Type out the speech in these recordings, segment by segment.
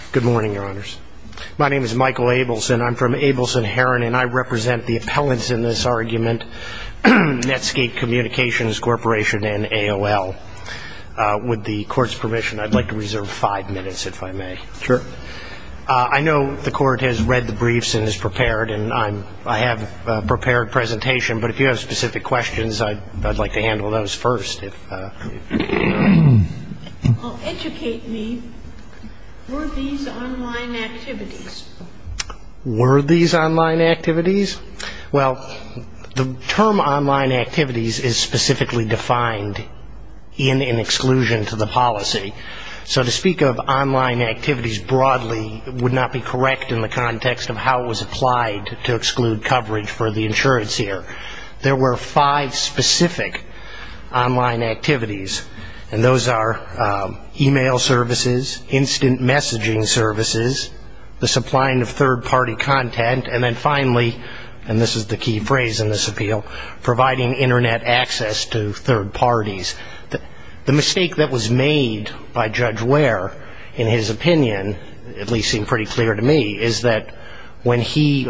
corporation and AOL. With the court's permission, I'd like to reserve five minutes, if I may. Sure. I know the court has read the briefs and is prepared, and I have a prepared presentation. But if you have specific questions, I'd like to handle those first. I'm going to read the briefs. Were these online activities? Well, the term online activities is specifically defined in an exclusion to the policy. So to speak of online activities broadly would not be correct in the context of how it was applied to exclude coverage for the insurance here. There were five specific online activities, and those are e-mail services, instant messaging, the supplying of third-party content, and then finally, and this is the key phrase in this appeal, providing Internet access to third parties. The mistake that was made by Judge Ware, in his opinion, at least seemed pretty clear to me, is that when he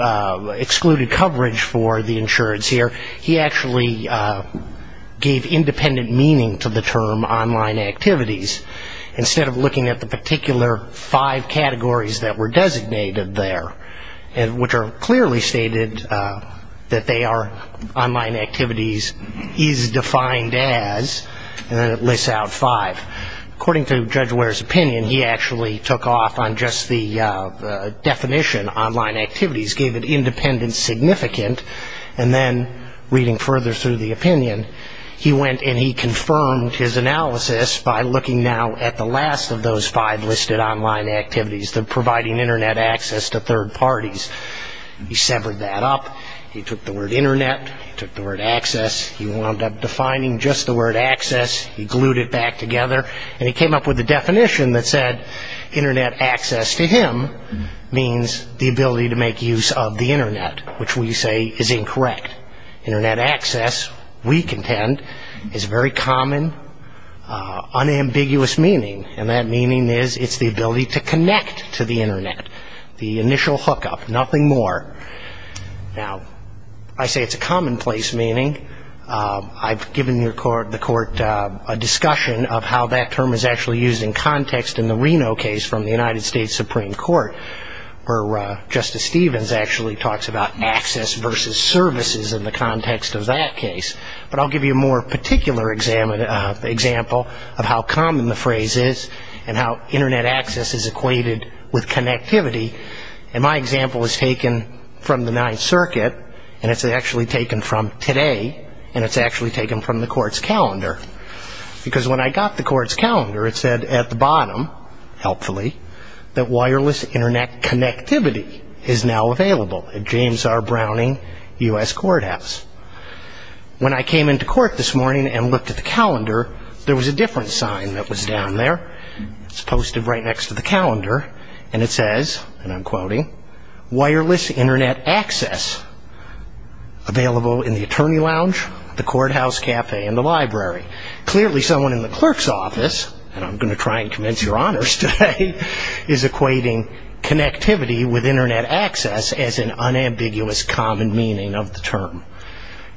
excluded coverage for the insurance here, he actually gave independent meaning to the term online activities. Instead of looking at the particular five categories that were designated there, which are clearly stated that they are online activities, is defined as, and then it lists out five. According to Judge Ware's opinion, he actually took off on just the definition online activities, gave it independent significant, and then reading further through the opinion, he went and he confirmed his analysis by looking now at the last of those five listed online activities, the providing Internet access to third parties. He severed that up, he took the word Internet, he took the word access, he wound up defining just the word access, he glued it back together, and he came up with a definition that said, Internet access to him means the ability to make use of the Internet, which we say is incorrect. Internet access, we contend, is very common, unambiguous meaning, and that meaning is it's the ability to connect to the Internet, the initial hookup, nothing more. Now, I say it's a commonplace meaning. I've given the court a discussion of how that term is actually used in context in the Reno case from the United States Supreme Court, where Justice Stevens actually talks about access versus services in the context of that case, but I'll give you a more particular example of how common the phrase is and how Internet access is equated with connectivity, and my example is taken from the Ninth Circuit, and it's actually taken from today, and it's actually taken from the court's calendar, because when I got the court's calendar, it said at the bottom, helpfully, that wireless Internet connectivity is now available at James R. Browning U.S. Courthouse. When I came into court this morning and looked at the calendar, there was a different sign that was down there. It's posted right next to the calendar, and it says, and I'm quoting, wireless Internet access available in the attorney lounge, the courthouse cafe, and the library. Clearly, someone in the clerk's office, and I'm going to try and convince your honors today, is equating connectivity with Internet access as an unambiguous common meaning of the term,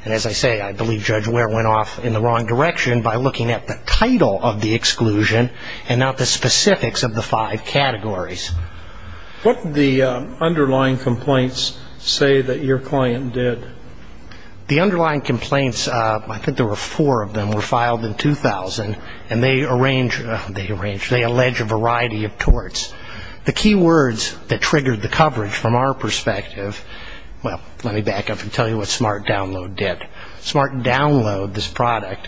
and as I say, I believe Judge Ware went off in the wrong direction by looking at the title of the exclusion and not the specifics of the five categories. What did the underlying complaints say that your client did? The underlying complaints, I think there were four of them, were filed in 2000, and they allege a variety of torts. The key words that triggered the coverage from our perspective, well, let me back up and tell you what Smart Download did. Smart Download, this product,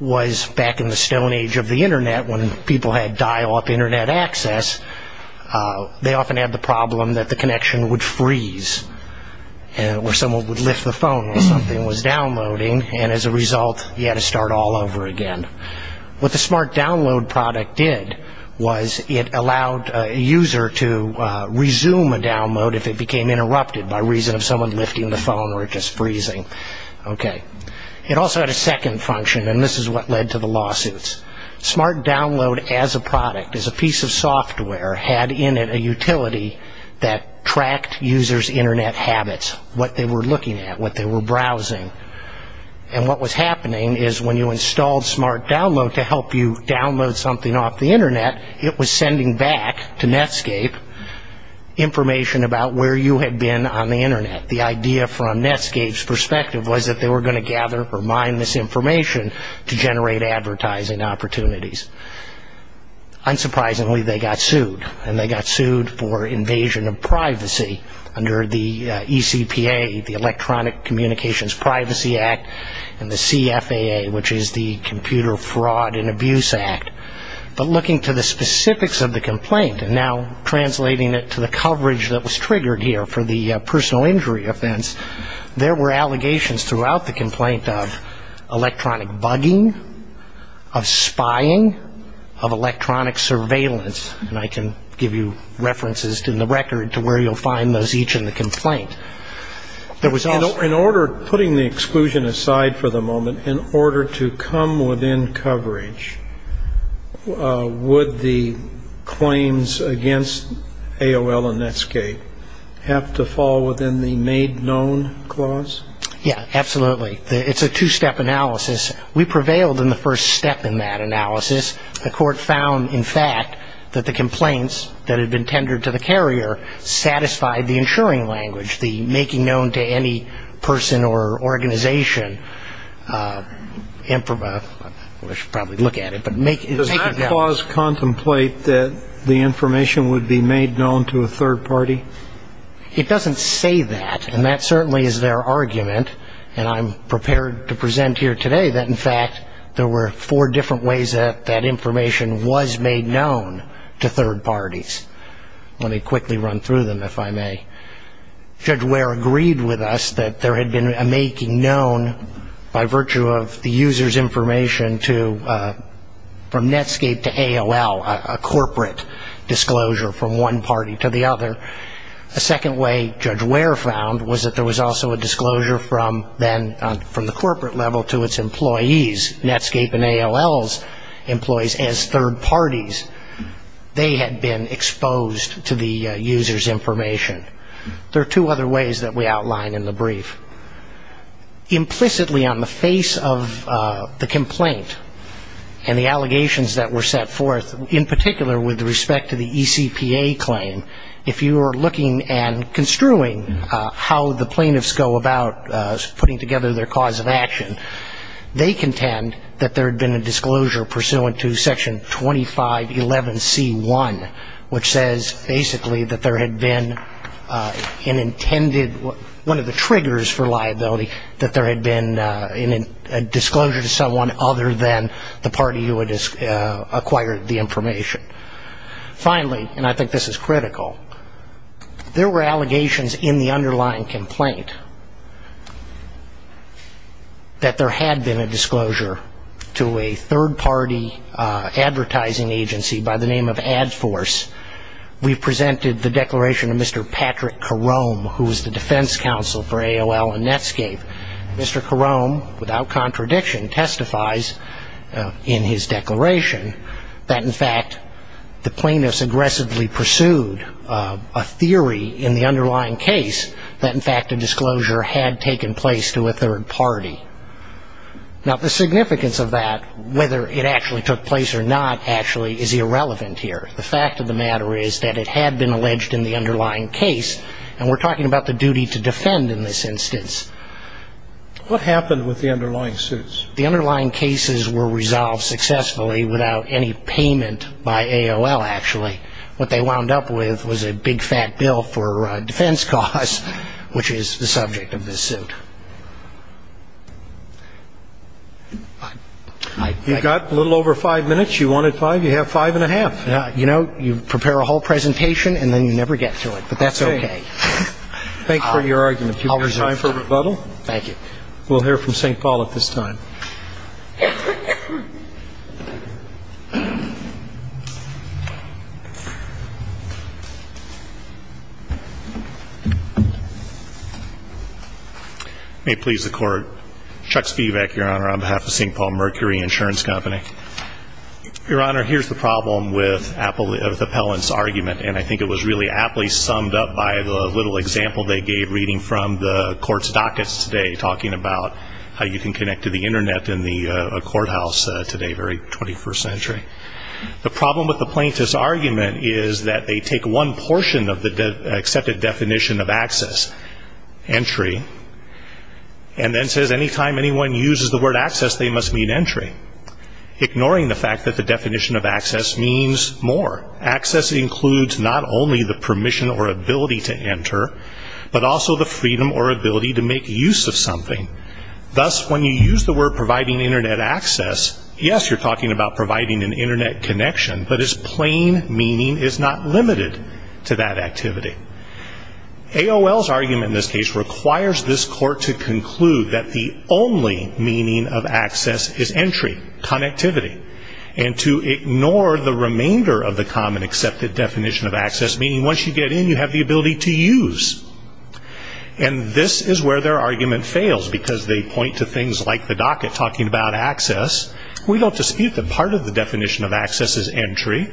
was back in the stone age of the Internet when people had dial-up Internet access, they often had the problem that the connection would freeze where someone would lift the phone when something was downloading, and as a result, you had to start all over again. What the Smart Download product did was it allowed a user to resume a download if it became interrupted by reason of someone lifting the phone or it just freezing. It also had a second function, and this is what led to the lawsuits. Smart Download as a product, as a piece of software, had in it a utility that tracked users' Internet habits, what they were looking at, what they were browsing, and what was happening is when you installed Smart Download to help you download something off the Internet, it was sending back to Netscape information about where you had been on the Internet. The idea from Netscape's perspective was that they were going to gather or mine this information to generate advertising opportunities. Unsurprisingly, they got sued, and they got sued for invasion of privacy under the ECPA, the Electronic Communications Privacy Act, and the CFAA, which is the Computer Fraud and Abuse Act. But looking to the specifics of the complaint, and now translating it to the coverage that was triggered here for the personal injury offense, there were allegations throughout the complaint of electronic bugging, of spying, of electronic surveillance, and I can give you references in the record to where you'll find those each in the complaint. In order, putting the exclusion aside for the moment, in order to come within coverage, would the claims against AOL and Netscape have to fall within the made known clause? Yeah, absolutely. It's a two-step analysis. We prevailed in the first step in that analysis. The court found, in fact, that the complaints that had been tendered to the carrier satisfied the ensuring language, the making known to any person or organization. We should probably look at it, but make it known. The court does contemplate that the information would be made known to a third party? It doesn't say that, and that certainly is their argument, and I'm prepared to present here today that, in fact, there were four different ways that that information was made known to third parties. Let me quickly run through them, if I may. Judge Ware agreed with us that there had been a making known by virtue of the user's information from Netscape to AOL, a corporate disclosure from one party to the other. A second way Judge Ware found was that there was also a disclosure from the corporate level to its employees, Netscape and AOL's employees, as third parties. They had been exposed to the user's information. There are two other ways that we outline in the brief. Implicitly on the face of the complaint and the allegations that were set forth, in particular with respect to the ECPA claim, if you were looking and construing how the plaintiffs go about putting together their cause of action, they contend that there had been a disclosure pursuant to Section 2511C1, which says basically that there had been an intended, one of the triggers for liability, that there had been a disclosure to someone other than the party who had acquired the information. Finally, and I think this is critical, there were allegations in the underlying complaint that there had been a disclosure to a third-party advertising agency by the name of Adforce. We presented the declaration to Mr. Patrick Carome, who was the defense counsel for AOL and Netscape. Mr. Carome, without contradiction, testifies in his declaration that, in fact, the plaintiffs aggressively pursued a theory in the underlying case that, in fact, a disclosure had taken place to a third party. Now, the significance of that, whether it actually took place or not, actually is irrelevant here. The fact of the matter is that it had been alleged in the underlying case, and we're talking about the duty to defend in this instance. What happened with the underlying suits? The underlying cases were resolved successfully without any payment by AOL, actually. What they wound up with was a big, fat bill for defense costs, which is the subject of this suit. You've got a little over five minutes. You wanted five, you have five and a half. You know, you prepare a whole presentation and then you never get to it, but that's okay. Thank you for your argument. Do we have time for rebuttal? Thank you. We'll hear from St. Paul at this time. May it please the Court. Chuck Spivak, Your Honor, on behalf of St. Paul Mercury Insurance Company. Your Honor, here's the problem with Appellant's argument, and I think it was really aptly summed up by the little example they gave reading from the Court's dockets today, talking about how you can connect to the Internet in the courthouse today, very 21st century. The problem with the plaintiff's argument is that they take one portion of the accepted definition of access, entry, and then says any time anyone uses the word access, they must mean entry, ignoring the fact that the definition of access means more. Access includes not only the permission or ability to enter, but also the freedom or ability to make use of something. Thus, when you use the word providing Internet access, yes, you're talking about providing an Internet connection, but its plain meaning is not limited to that activity. AOL's argument in this case requires this Court to conclude that the only meaning of access is entry, connectivity, and to ignore the remainder of the common accepted definition of access, meaning once you get in, you have the ability to use. And this is where their argument fails, because they point to things like the docket talking about access. We don't dispute that part of the definition of access is entry.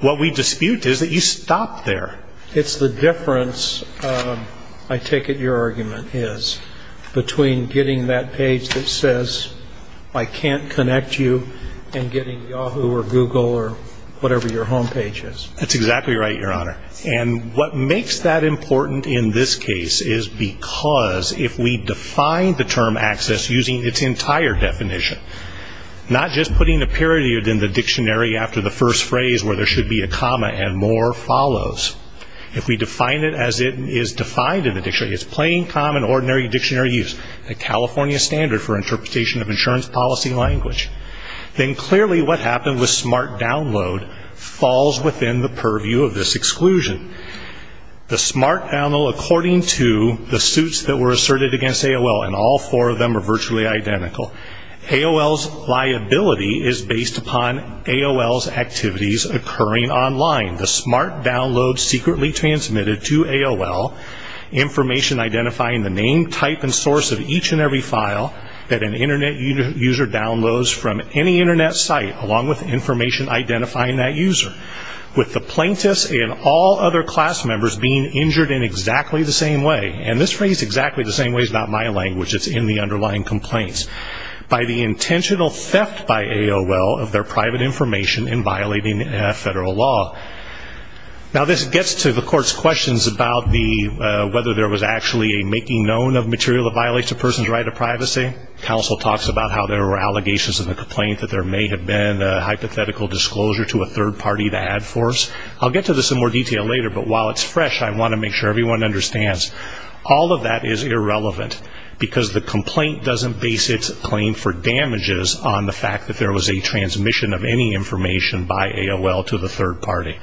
What we dispute is that you stop there. It's the difference, I take it your argument is, between getting that page that says I can't connect you and getting Yahoo or Google or whatever your home page is. That's exactly right, Your Honor. And what makes that important in this case is because if we define the term access using its entire definition, not just putting a period in the dictionary after the first phrase where there should be a comma and more follows. If we define it as it is defined in the dictionary, its plain, common, ordinary dictionary use, a California standard for interpretation of insurance policy language, then clearly what happened with smart download falls within the purview of this exclusion. The smart download according to the suits that were asserted against AOL, and all four of them are virtually identical. AOL's liability is based upon AOL's activities occurring online. The smart download secretly transmitted to AOL, information identifying the name, type, and source of each and every file that an Internet user downloads from any Internet site, along with information identifying that user. With the plaintiffs and all other class members being injured in exactly the same way, and this phrase exactly the same way is not my language, it's in the underlying complaints, by the intentional theft by AOL of their private information in violating federal law. Now this gets to the court's questions about whether there was actually a making known of material that violates a person's right to privacy. Counsel talks about how there were allegations in the complaint that there may have been hypothetical disclosure to a third party to add force. I'll get to this in more detail later, but while it's fresh, I want to make sure everyone understands all of that is irrelevant because the complaint doesn't base its claim for damages on the fact that there was a transmission of any information by AOL to the third party.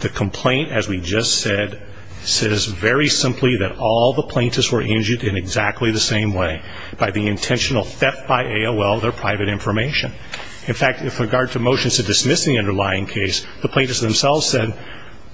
The complaint, as we just said, says very simply that all the plaintiffs were injured in exactly the same way, by the intentional theft by AOL of their private information. In fact, with regard to motions to dismiss the underlying case, the plaintiffs themselves said,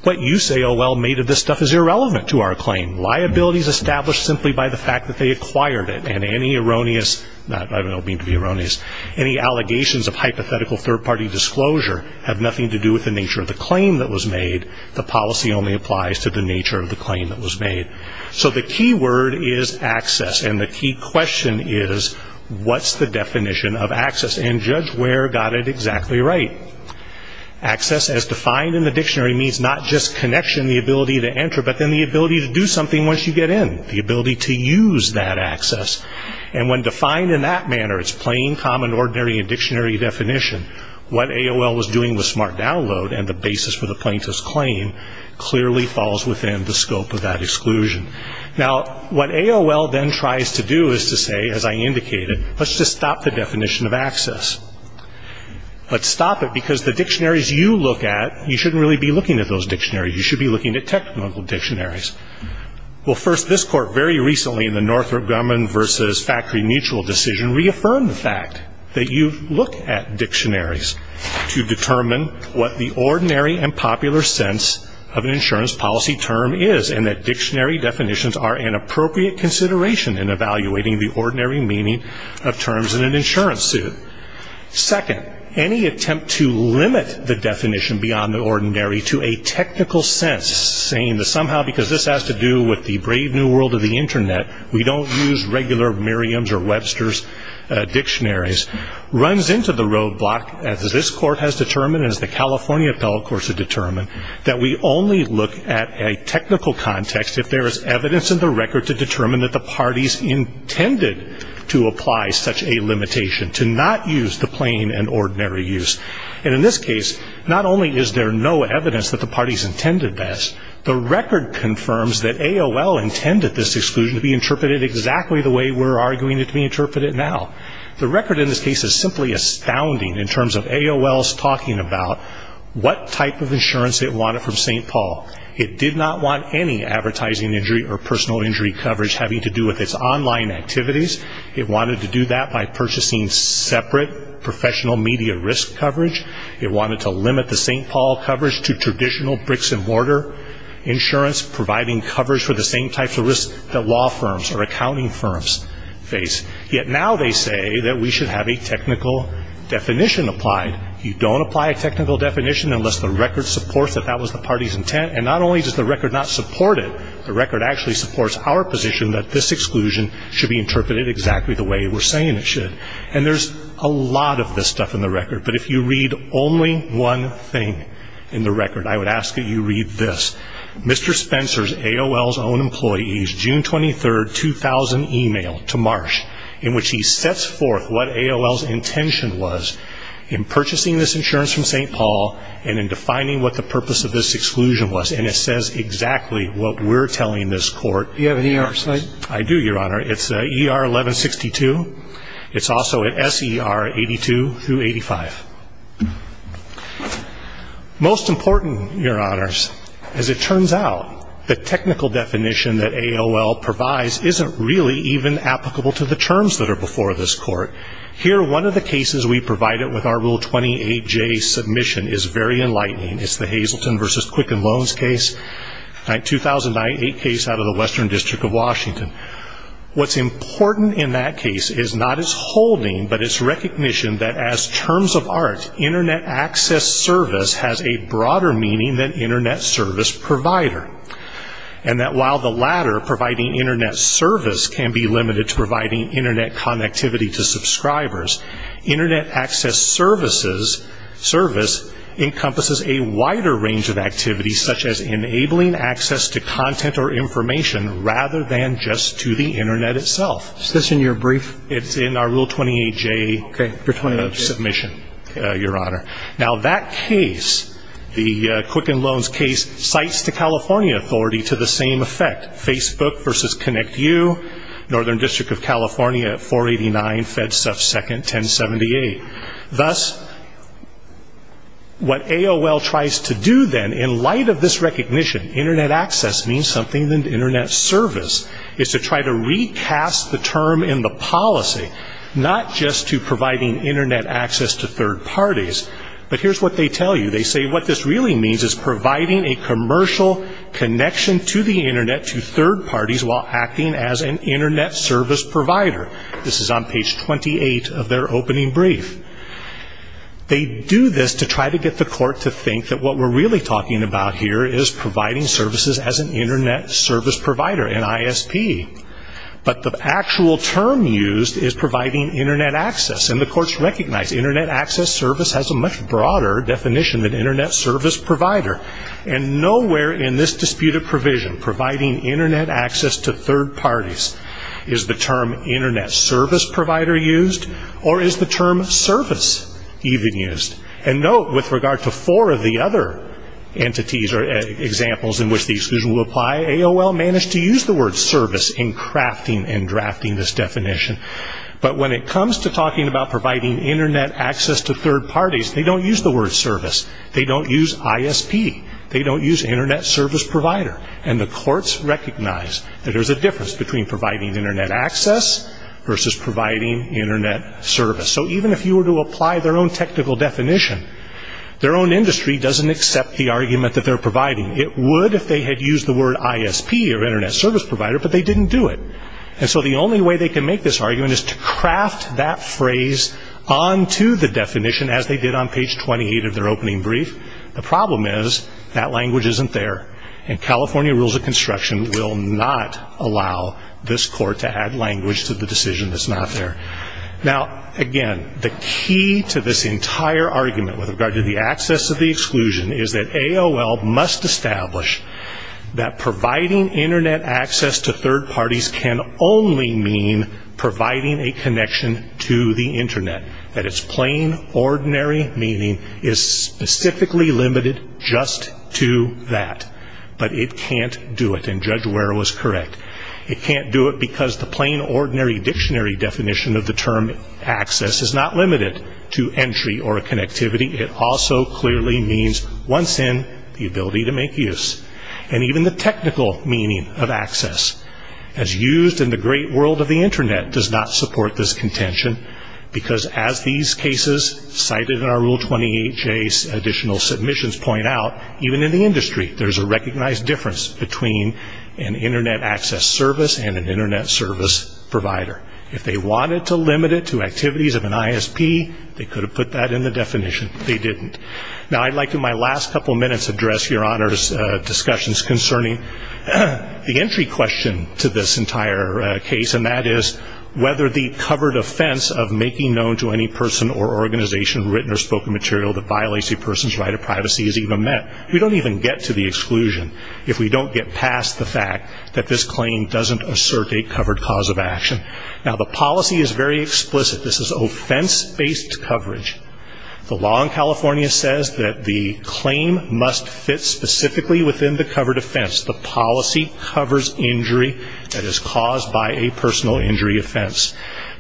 what you say, AOL, made of this stuff is irrelevant to our claim. Liability is established simply by the fact that they acquired it, and any erroneous, I don't mean to be erroneous, any allegations of hypothetical third party disclosure have nothing to do with the nature of the claim that was made. The policy only applies to the nature of the claim that was made. So the key word is access, and the key question is, what's the definition of access, and judge where got it exactly right? Access, as defined in the dictionary, means not just connection, the ability to enter, but then the ability to do something once you get in, the ability to use that access. And when defined in that manner, its plain, common, ordinary, and dictionary definition, what AOL was doing with Smart Download and the basis for the plaintiff's claim clearly falls within the scope of that exclusion. Now, what AOL then tries to do is to say, as I indicated, let's just stop the definition of access. Let's stop it because the dictionaries you look at, you shouldn't really be looking at those dictionaries, you should be looking at technical dictionaries. Well, first, this court very recently in the Northrop Grumman v. Factory Mutual decision reaffirmed the fact that you look at dictionaries to determine what the ordinary and popular sense of an insurance policy term is, and that dictionary definitions are an appropriate consideration in evaluating the ordinary meaning of terms in an insurance suit. Second, any attempt to limit the definition beyond the ordinary to a technical sense, saying that somehow because this has to do with the brave new world of the Internet, we don't use regular Merriam's or Webster's dictionaries, runs into the roadblock, as this court has determined and as the California appellate courts have determined, that we only look at a technical context if there is evidence in the record to determine that the parties intended to apply such a limitation, to not use the plain and ordinary use. And in this case, not only is there no evidence that the parties intended this, the record confirms that AOL intended this exclusion to be interpreted exactly the way we're arguing it to be interpreted now. The record in this case is simply astounding in terms of AOL's talking about what type of insurance it wanted from St. Paul. It did not want any advertising injury or personal injury coverage having to do with its online activities. It wanted to do that by purchasing separate professional media risk coverage. It wanted to limit the St. Paul coverage to traditional bricks-and-mortar insurance, providing coverage for the same types of risks that law firms or accounting firms face. Yet now they say that we should have a technical definition applied. You don't apply a technical definition unless the record supports that that was the party's intent, and not only does the record not support it, the record actually supports our position that this exclusion should be interpreted exactly the way we're saying it should. And there's a lot of this stuff in the record, but if you read only one thing in the record, I would ask that you read this. Mr. Spencer's AOL's own employees' June 23, 2000 email to Marsh, in which he sets forth what AOL's intention was in purchasing this insurance from St. Paul and in defining what the purpose of this exclusion was. And it says exactly what we're telling this Court. Do you have an ER site? I do, Your Honor. It's ER 1162. It's also at SER 82 through 85. Most important, Your Honors, as it turns out, the technical definition that AOL provides isn't really even applicable to the terms that are before this Court. Here, one of the cases we provided with our Rule 28J submission is very enlightening. It's the Hazleton v. Quicken Loans case, a 2008 case out of the Western District of Washington. What's important in that case is not its holding, but its recognition that as terms of art, Internet access service has a broader meaning than Internet service provider, and that while the latter, providing Internet service, can be limited to providing Internet connectivity to subscribers, Internet access service encompasses a wider range of activities, such as enabling access to content or information rather than just to the Internet itself. Is this in your brief? It's in our Rule 28J submission. Your Honor, now that case, the Quicken Loans case, cites the California authority to the same effect, Facebook v. ConnectU, Northern District of California, 489 FedSecond 1078. Thus, what AOL tries to do then, in light of this recognition, Internet access means something than Internet service, is to try to recast the term in the policy, not just to providing Internet access to third parties, but here's what they tell you. They say what this really means is providing a commercial connection to the Internet to third parties while acting as an Internet service provider. This is on page 28 of their opening brief. They do this to try to get the court to think that what we're really talking about here is providing services as an Internet service provider, NISP. But the actual term used is providing Internet access, and the courts recognize Internet access service has a much broader definition than Internet service provider. And nowhere in this disputed provision, providing Internet access to third parties, is the term Internet service provider used or is the term service even used? And note, with regard to four of the other entities or examples in which the exclusion will apply, AOL managed to use the word service in crafting and drafting this definition. But when it comes to talking about providing Internet access to third parties, they don't use the word service. They don't use ISP. They don't use Internet service provider. And the courts recognize that there's a difference between providing Internet access versus providing Internet service. So even if you were to apply their own technical definition, their own industry doesn't accept the argument that they're providing. It would if they had used the word ISP or Internet service provider, but they didn't do it. And so the only way they can make this argument is to craft that phrase onto the definition, as they did on page 28 of their opening brief. The problem is that language isn't there, and California rules of construction will not allow this court to add language to the decision that's not there. Now, again, the key to this entire argument with regard to the access of the exclusion is that AOL must establish that providing Internet access to third parties can only mean providing a connection to the Internet, that its plain, ordinary meaning is specifically limited just to that. But it can't do it, and Judge Ware was correct. It can't do it because the plain, ordinary dictionary definition of the term access is not limited to entry or connectivity. It also clearly means, once in, the ability to make use, and even the technical meaning of access. As used in the great world of the Internet does not support this contention, because as these cases cited in our Rule 28J's additional submissions point out, even in the industry there's a recognized difference between an Internet access service and an Internet service provider. If they wanted to limit it to activities of an ISP, they could have put that in the definition, but they didn't. Now, I'd like in my last couple minutes to address Your Honor's discussions concerning the entry question to this entire case, and that is whether the covered offense of making known to any person or organization written or spoken material that violates a person's right of privacy is even met. We don't even get to the exclusion if we don't get past the fact that this claim doesn't assert a covered cause of action. Now, the policy is very explicit. This is offense-based coverage. The law in California says that the claim must fit specifically within the covered offense. The policy covers injury that is caused by a personal injury offense.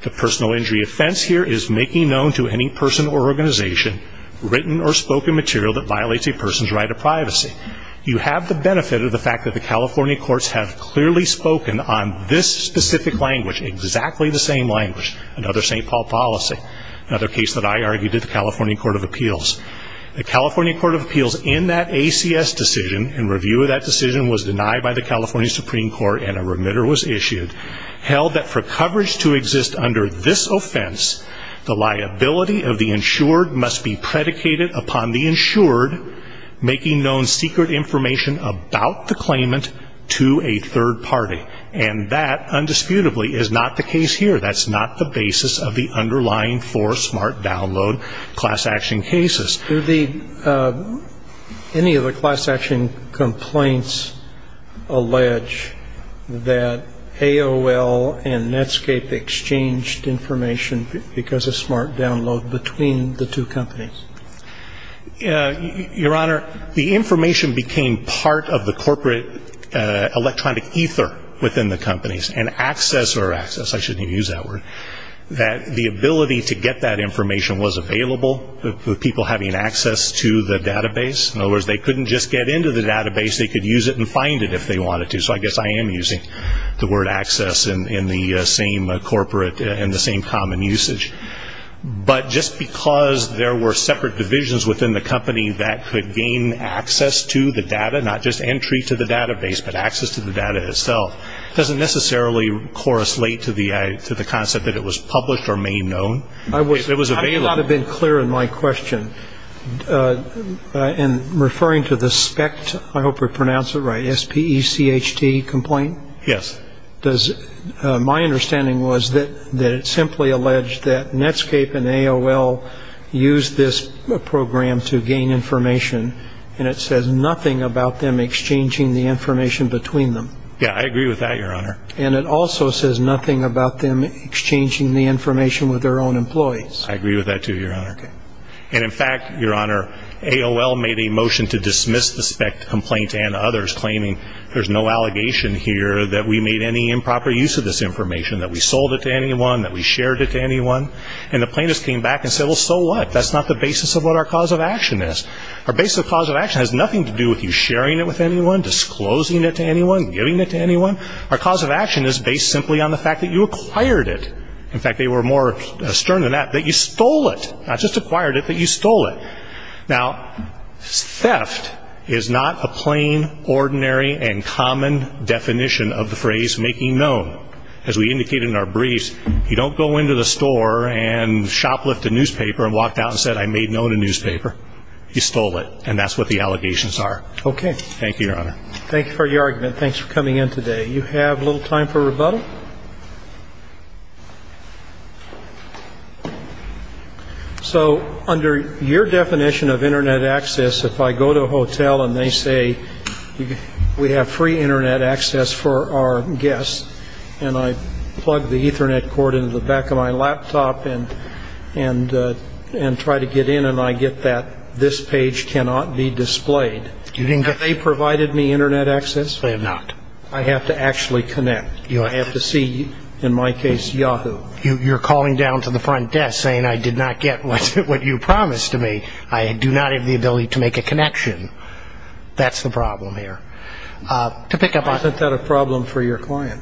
The personal injury offense here is making known to any person or organization written or spoken material that violates a person's right of privacy. You have the benefit of the fact that the California courts have clearly spoken on this specific language, exactly the same language, another St. Paul policy, another case that I argued at the California Court of Appeals. The California Court of Appeals in that ACS decision, in review of that decision was denied by the California Supreme Court and a remitter was issued, held that for coverage to exist under this offense, the liability of the insured must be predicated upon the insured making known secret information about the claimant to a third party. And that, undisputably, is not the case here. That's not the basis of the underlying four smart download class action cases. Do any of the class action complaints allege that AOL and Netscape exchanged information because of smart download between the two companies? Your Honor, the information became part of the corporate electronic ether within the companies and access or access, I shouldn't even use that word, that the ability to get that information was available, the people having access to the database. In other words, they couldn't just get into the database, they could use it and find it if they wanted to. So I guess I am using the word access in the same corporate and the same common usage. But just because there were separate divisions within the company that could gain access to the data, not just entry to the database, but access to the data itself, doesn't necessarily correslate to the concept that it was published or made known. It was available. I do not have been clear in my question. In referring to the SPECT, I hope I pronounced it right, S-P-E-C-H-T complaint? Yes. My understanding was that it simply alleged that Netscape and AOL used this program to gain information and it says nothing about them exchanging the information between them. Yes, I agree with that, Your Honor. And it also says nothing about them exchanging the information with their own employees. I agree with that too, Your Honor. And in fact, Your Honor, AOL made a motion to dismiss the SPECT complaint and others claiming there's no allegation here that we made any improper use of this information, that we sold it to anyone, that we shared it to anyone. And the plaintiffs came back and said, well, so what? That's not the basis of what our cause of action is. Our basic cause of action has nothing to do with you sharing it with anyone, disclosing it to anyone, giving it to anyone. Our cause of action is based simply on the fact that you acquired it. In fact, they were more stern than that, that you stole it. Not just acquired it, but you stole it. Now, theft is not a plain, ordinary, and common definition of the phrase making known. As we indicated in our briefs, you don't go into the store and shoplift a newspaper and walk out and say I made known a newspaper. You stole it. And that's what the allegations are. Okay. Thank you, Your Honor. Thank you for your argument. Thanks for coming in today. You have a little time for rebuttal. Thank you. So under your definition of Internet access, if I go to a hotel and they say we have free Internet access for our guests and I plug the Ethernet cord into the back of my laptop and try to get in and I get that this page cannot be displayed, have they provided me Internet access? They have not. I have to actually connect. I have to see, in my case, Yahoo. You're calling down to the front desk saying I did not get what you promised to me. I do not have the ability to make a connection. That's the problem here. Isn't that a problem for your client?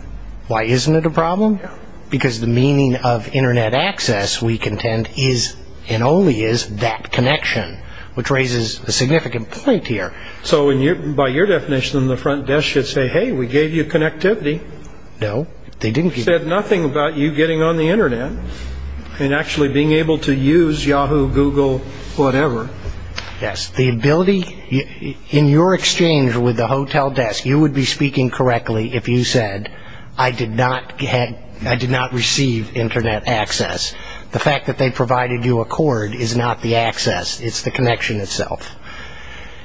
Why isn't it a problem? Because the meaning of Internet access, we contend, is and only is that connection, which raises a significant point here. So by your definition, the front desk should say, hey, we gave you connectivity. No, they didn't. We said nothing about you getting on the Internet and actually being able to use Yahoo, Google, whatever. Yes, the ability, in your exchange with the hotel desk, you would be speaking correctly if you said I did not receive Internet access. The fact that they provided you a cord is not the access. It's the connection itself.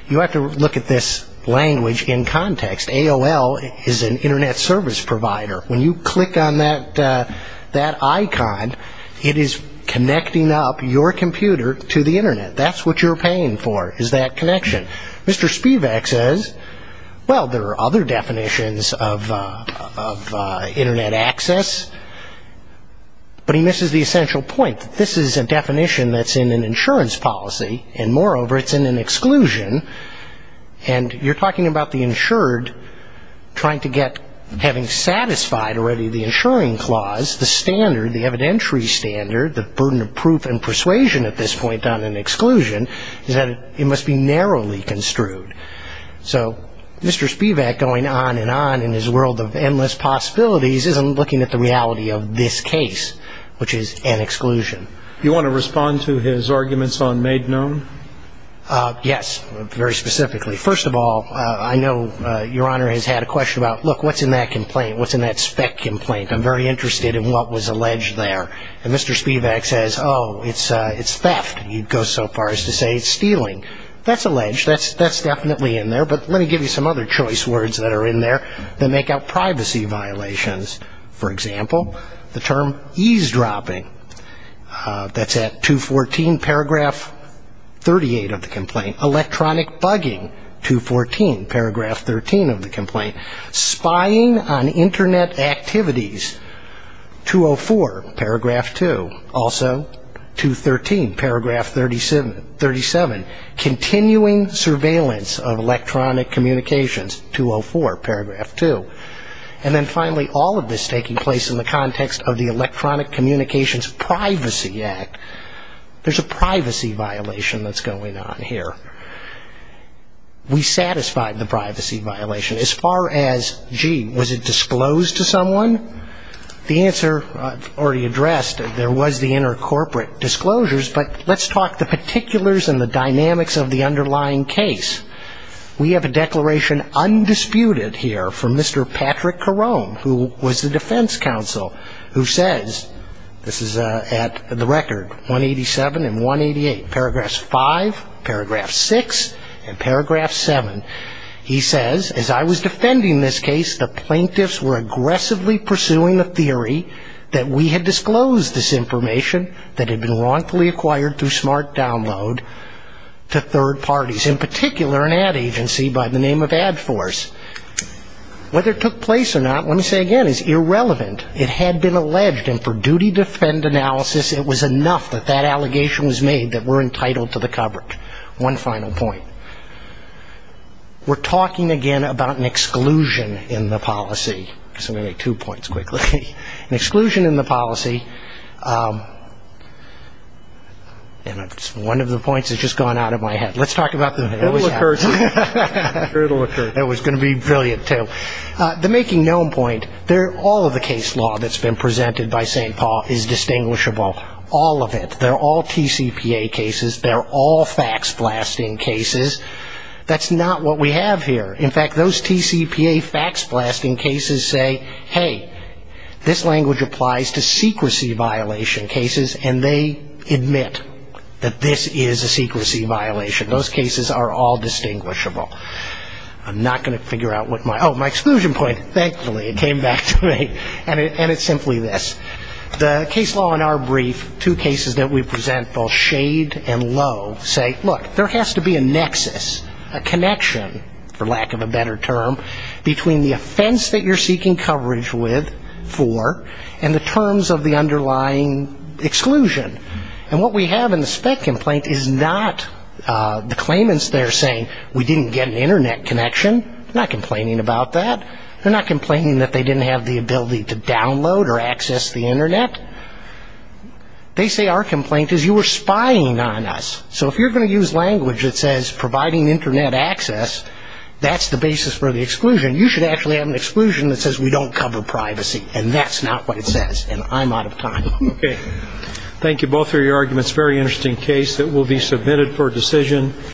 You have to look at this language in context. AOL is an Internet service provider. When you click on that icon, it is connecting up your computer to the Internet. That's what you're paying for is that connection. Mr. Spivak says, well, there are other definitions of Internet access, but he misses the essential point that this is a definition that's in an insurance policy, and moreover, it's in an exclusion. And you're talking about the insured trying to get, having satisfied already the insuring clause, the standard, the evidentiary standard, the burden of proof and persuasion at this point on an exclusion, is that it must be narrowly construed. So Mr. Spivak, going on and on in his world of endless possibilities, isn't looking at the reality of this case, which is an exclusion. You want to respond to his arguments on made known? Yes, very specifically. First of all, I know Your Honor has had a question about, look, what's in that complaint? What's in that spec complaint? I'm very interested in what was alleged there. And Mr. Spivak says, oh, it's theft. You'd go so far as to say it's stealing. That's alleged. That's definitely in there. But let me give you some other choice words that are in there that make up privacy violations. For example, the term eavesdropping. That's at 214, paragraph 38 of the complaint. Electronic bugging, 214, paragraph 13 of the complaint. Spying on Internet activities, 204, paragraph 2. Also, 213, paragraph 37. Continuing surveillance of electronic communications, 204, paragraph 2. And then finally, all of this taking place in the context of the Electronic Communications Privacy Act. There's a privacy violation that's going on here. We satisfied the privacy violation. As far as, gee, was it disclosed to someone? The answer, I've already addressed, there was the intercorporate disclosures. But let's talk the particulars and the dynamics of the underlying case. We have a declaration, undisputed here, from Mr. Patrick Carone, who was the defense counsel, who says, this is at the record, 187 and 188, paragraphs 5, paragraph 6, and paragraph 7. He says, as I was defending this case, the plaintiffs were aggressively pursuing the theory that we had disclosed this information that had been wrongfully acquired through smart download to third parties. In particular, an ad agency by the name of AdForce. Whether it took place or not, let me say again, is irrelevant. It had been alleged, and for duty to defend analysis, it was enough that that allegation was made that we're entitled to the coverage. One final point. We're talking, again, about an exclusion in the policy. I'm going to make two points quickly. An exclusion in the policy, and it's one of the points that's just gone out of my head. Let's talk about the other. It'll occur to you. It was going to be brilliant, too. The making known point, all of the case law that's been presented by St. Paul is distinguishable. All of it. They're all TCPA cases. They're all fax blasting cases. That's not what we have here. In fact, those TCPA fax blasting cases say, hey, this language applies to secrecy violation cases, and they admit that this is a secrecy violation. Those cases are all distinguishable. I'm not going to figure out what my ‑‑ oh, my exclusion point. Thankfully, it came back to me, and it's simply this. The case law in our brief, two cases that we present, both shade and low, say, look, there has to be a nexus, a connection, for lack of a better term, between the offense that you're seeking coverage with for and the terms of the underlying exclusion. And what we have in the spec complaint is not the claimants there saying we didn't get an Internet connection. They're not complaining about that. They're not complaining that they didn't have the ability to download or access the Internet. They say our complaint is you were spying on us. So if you're going to use language that says providing Internet access, that's the basis for the exclusion. You should actually have an exclusion that says we don't cover privacy. And that's not what it says. And I'm out of time. Okay. Thank you both for your arguments. Very interesting case that will be submitted for decision.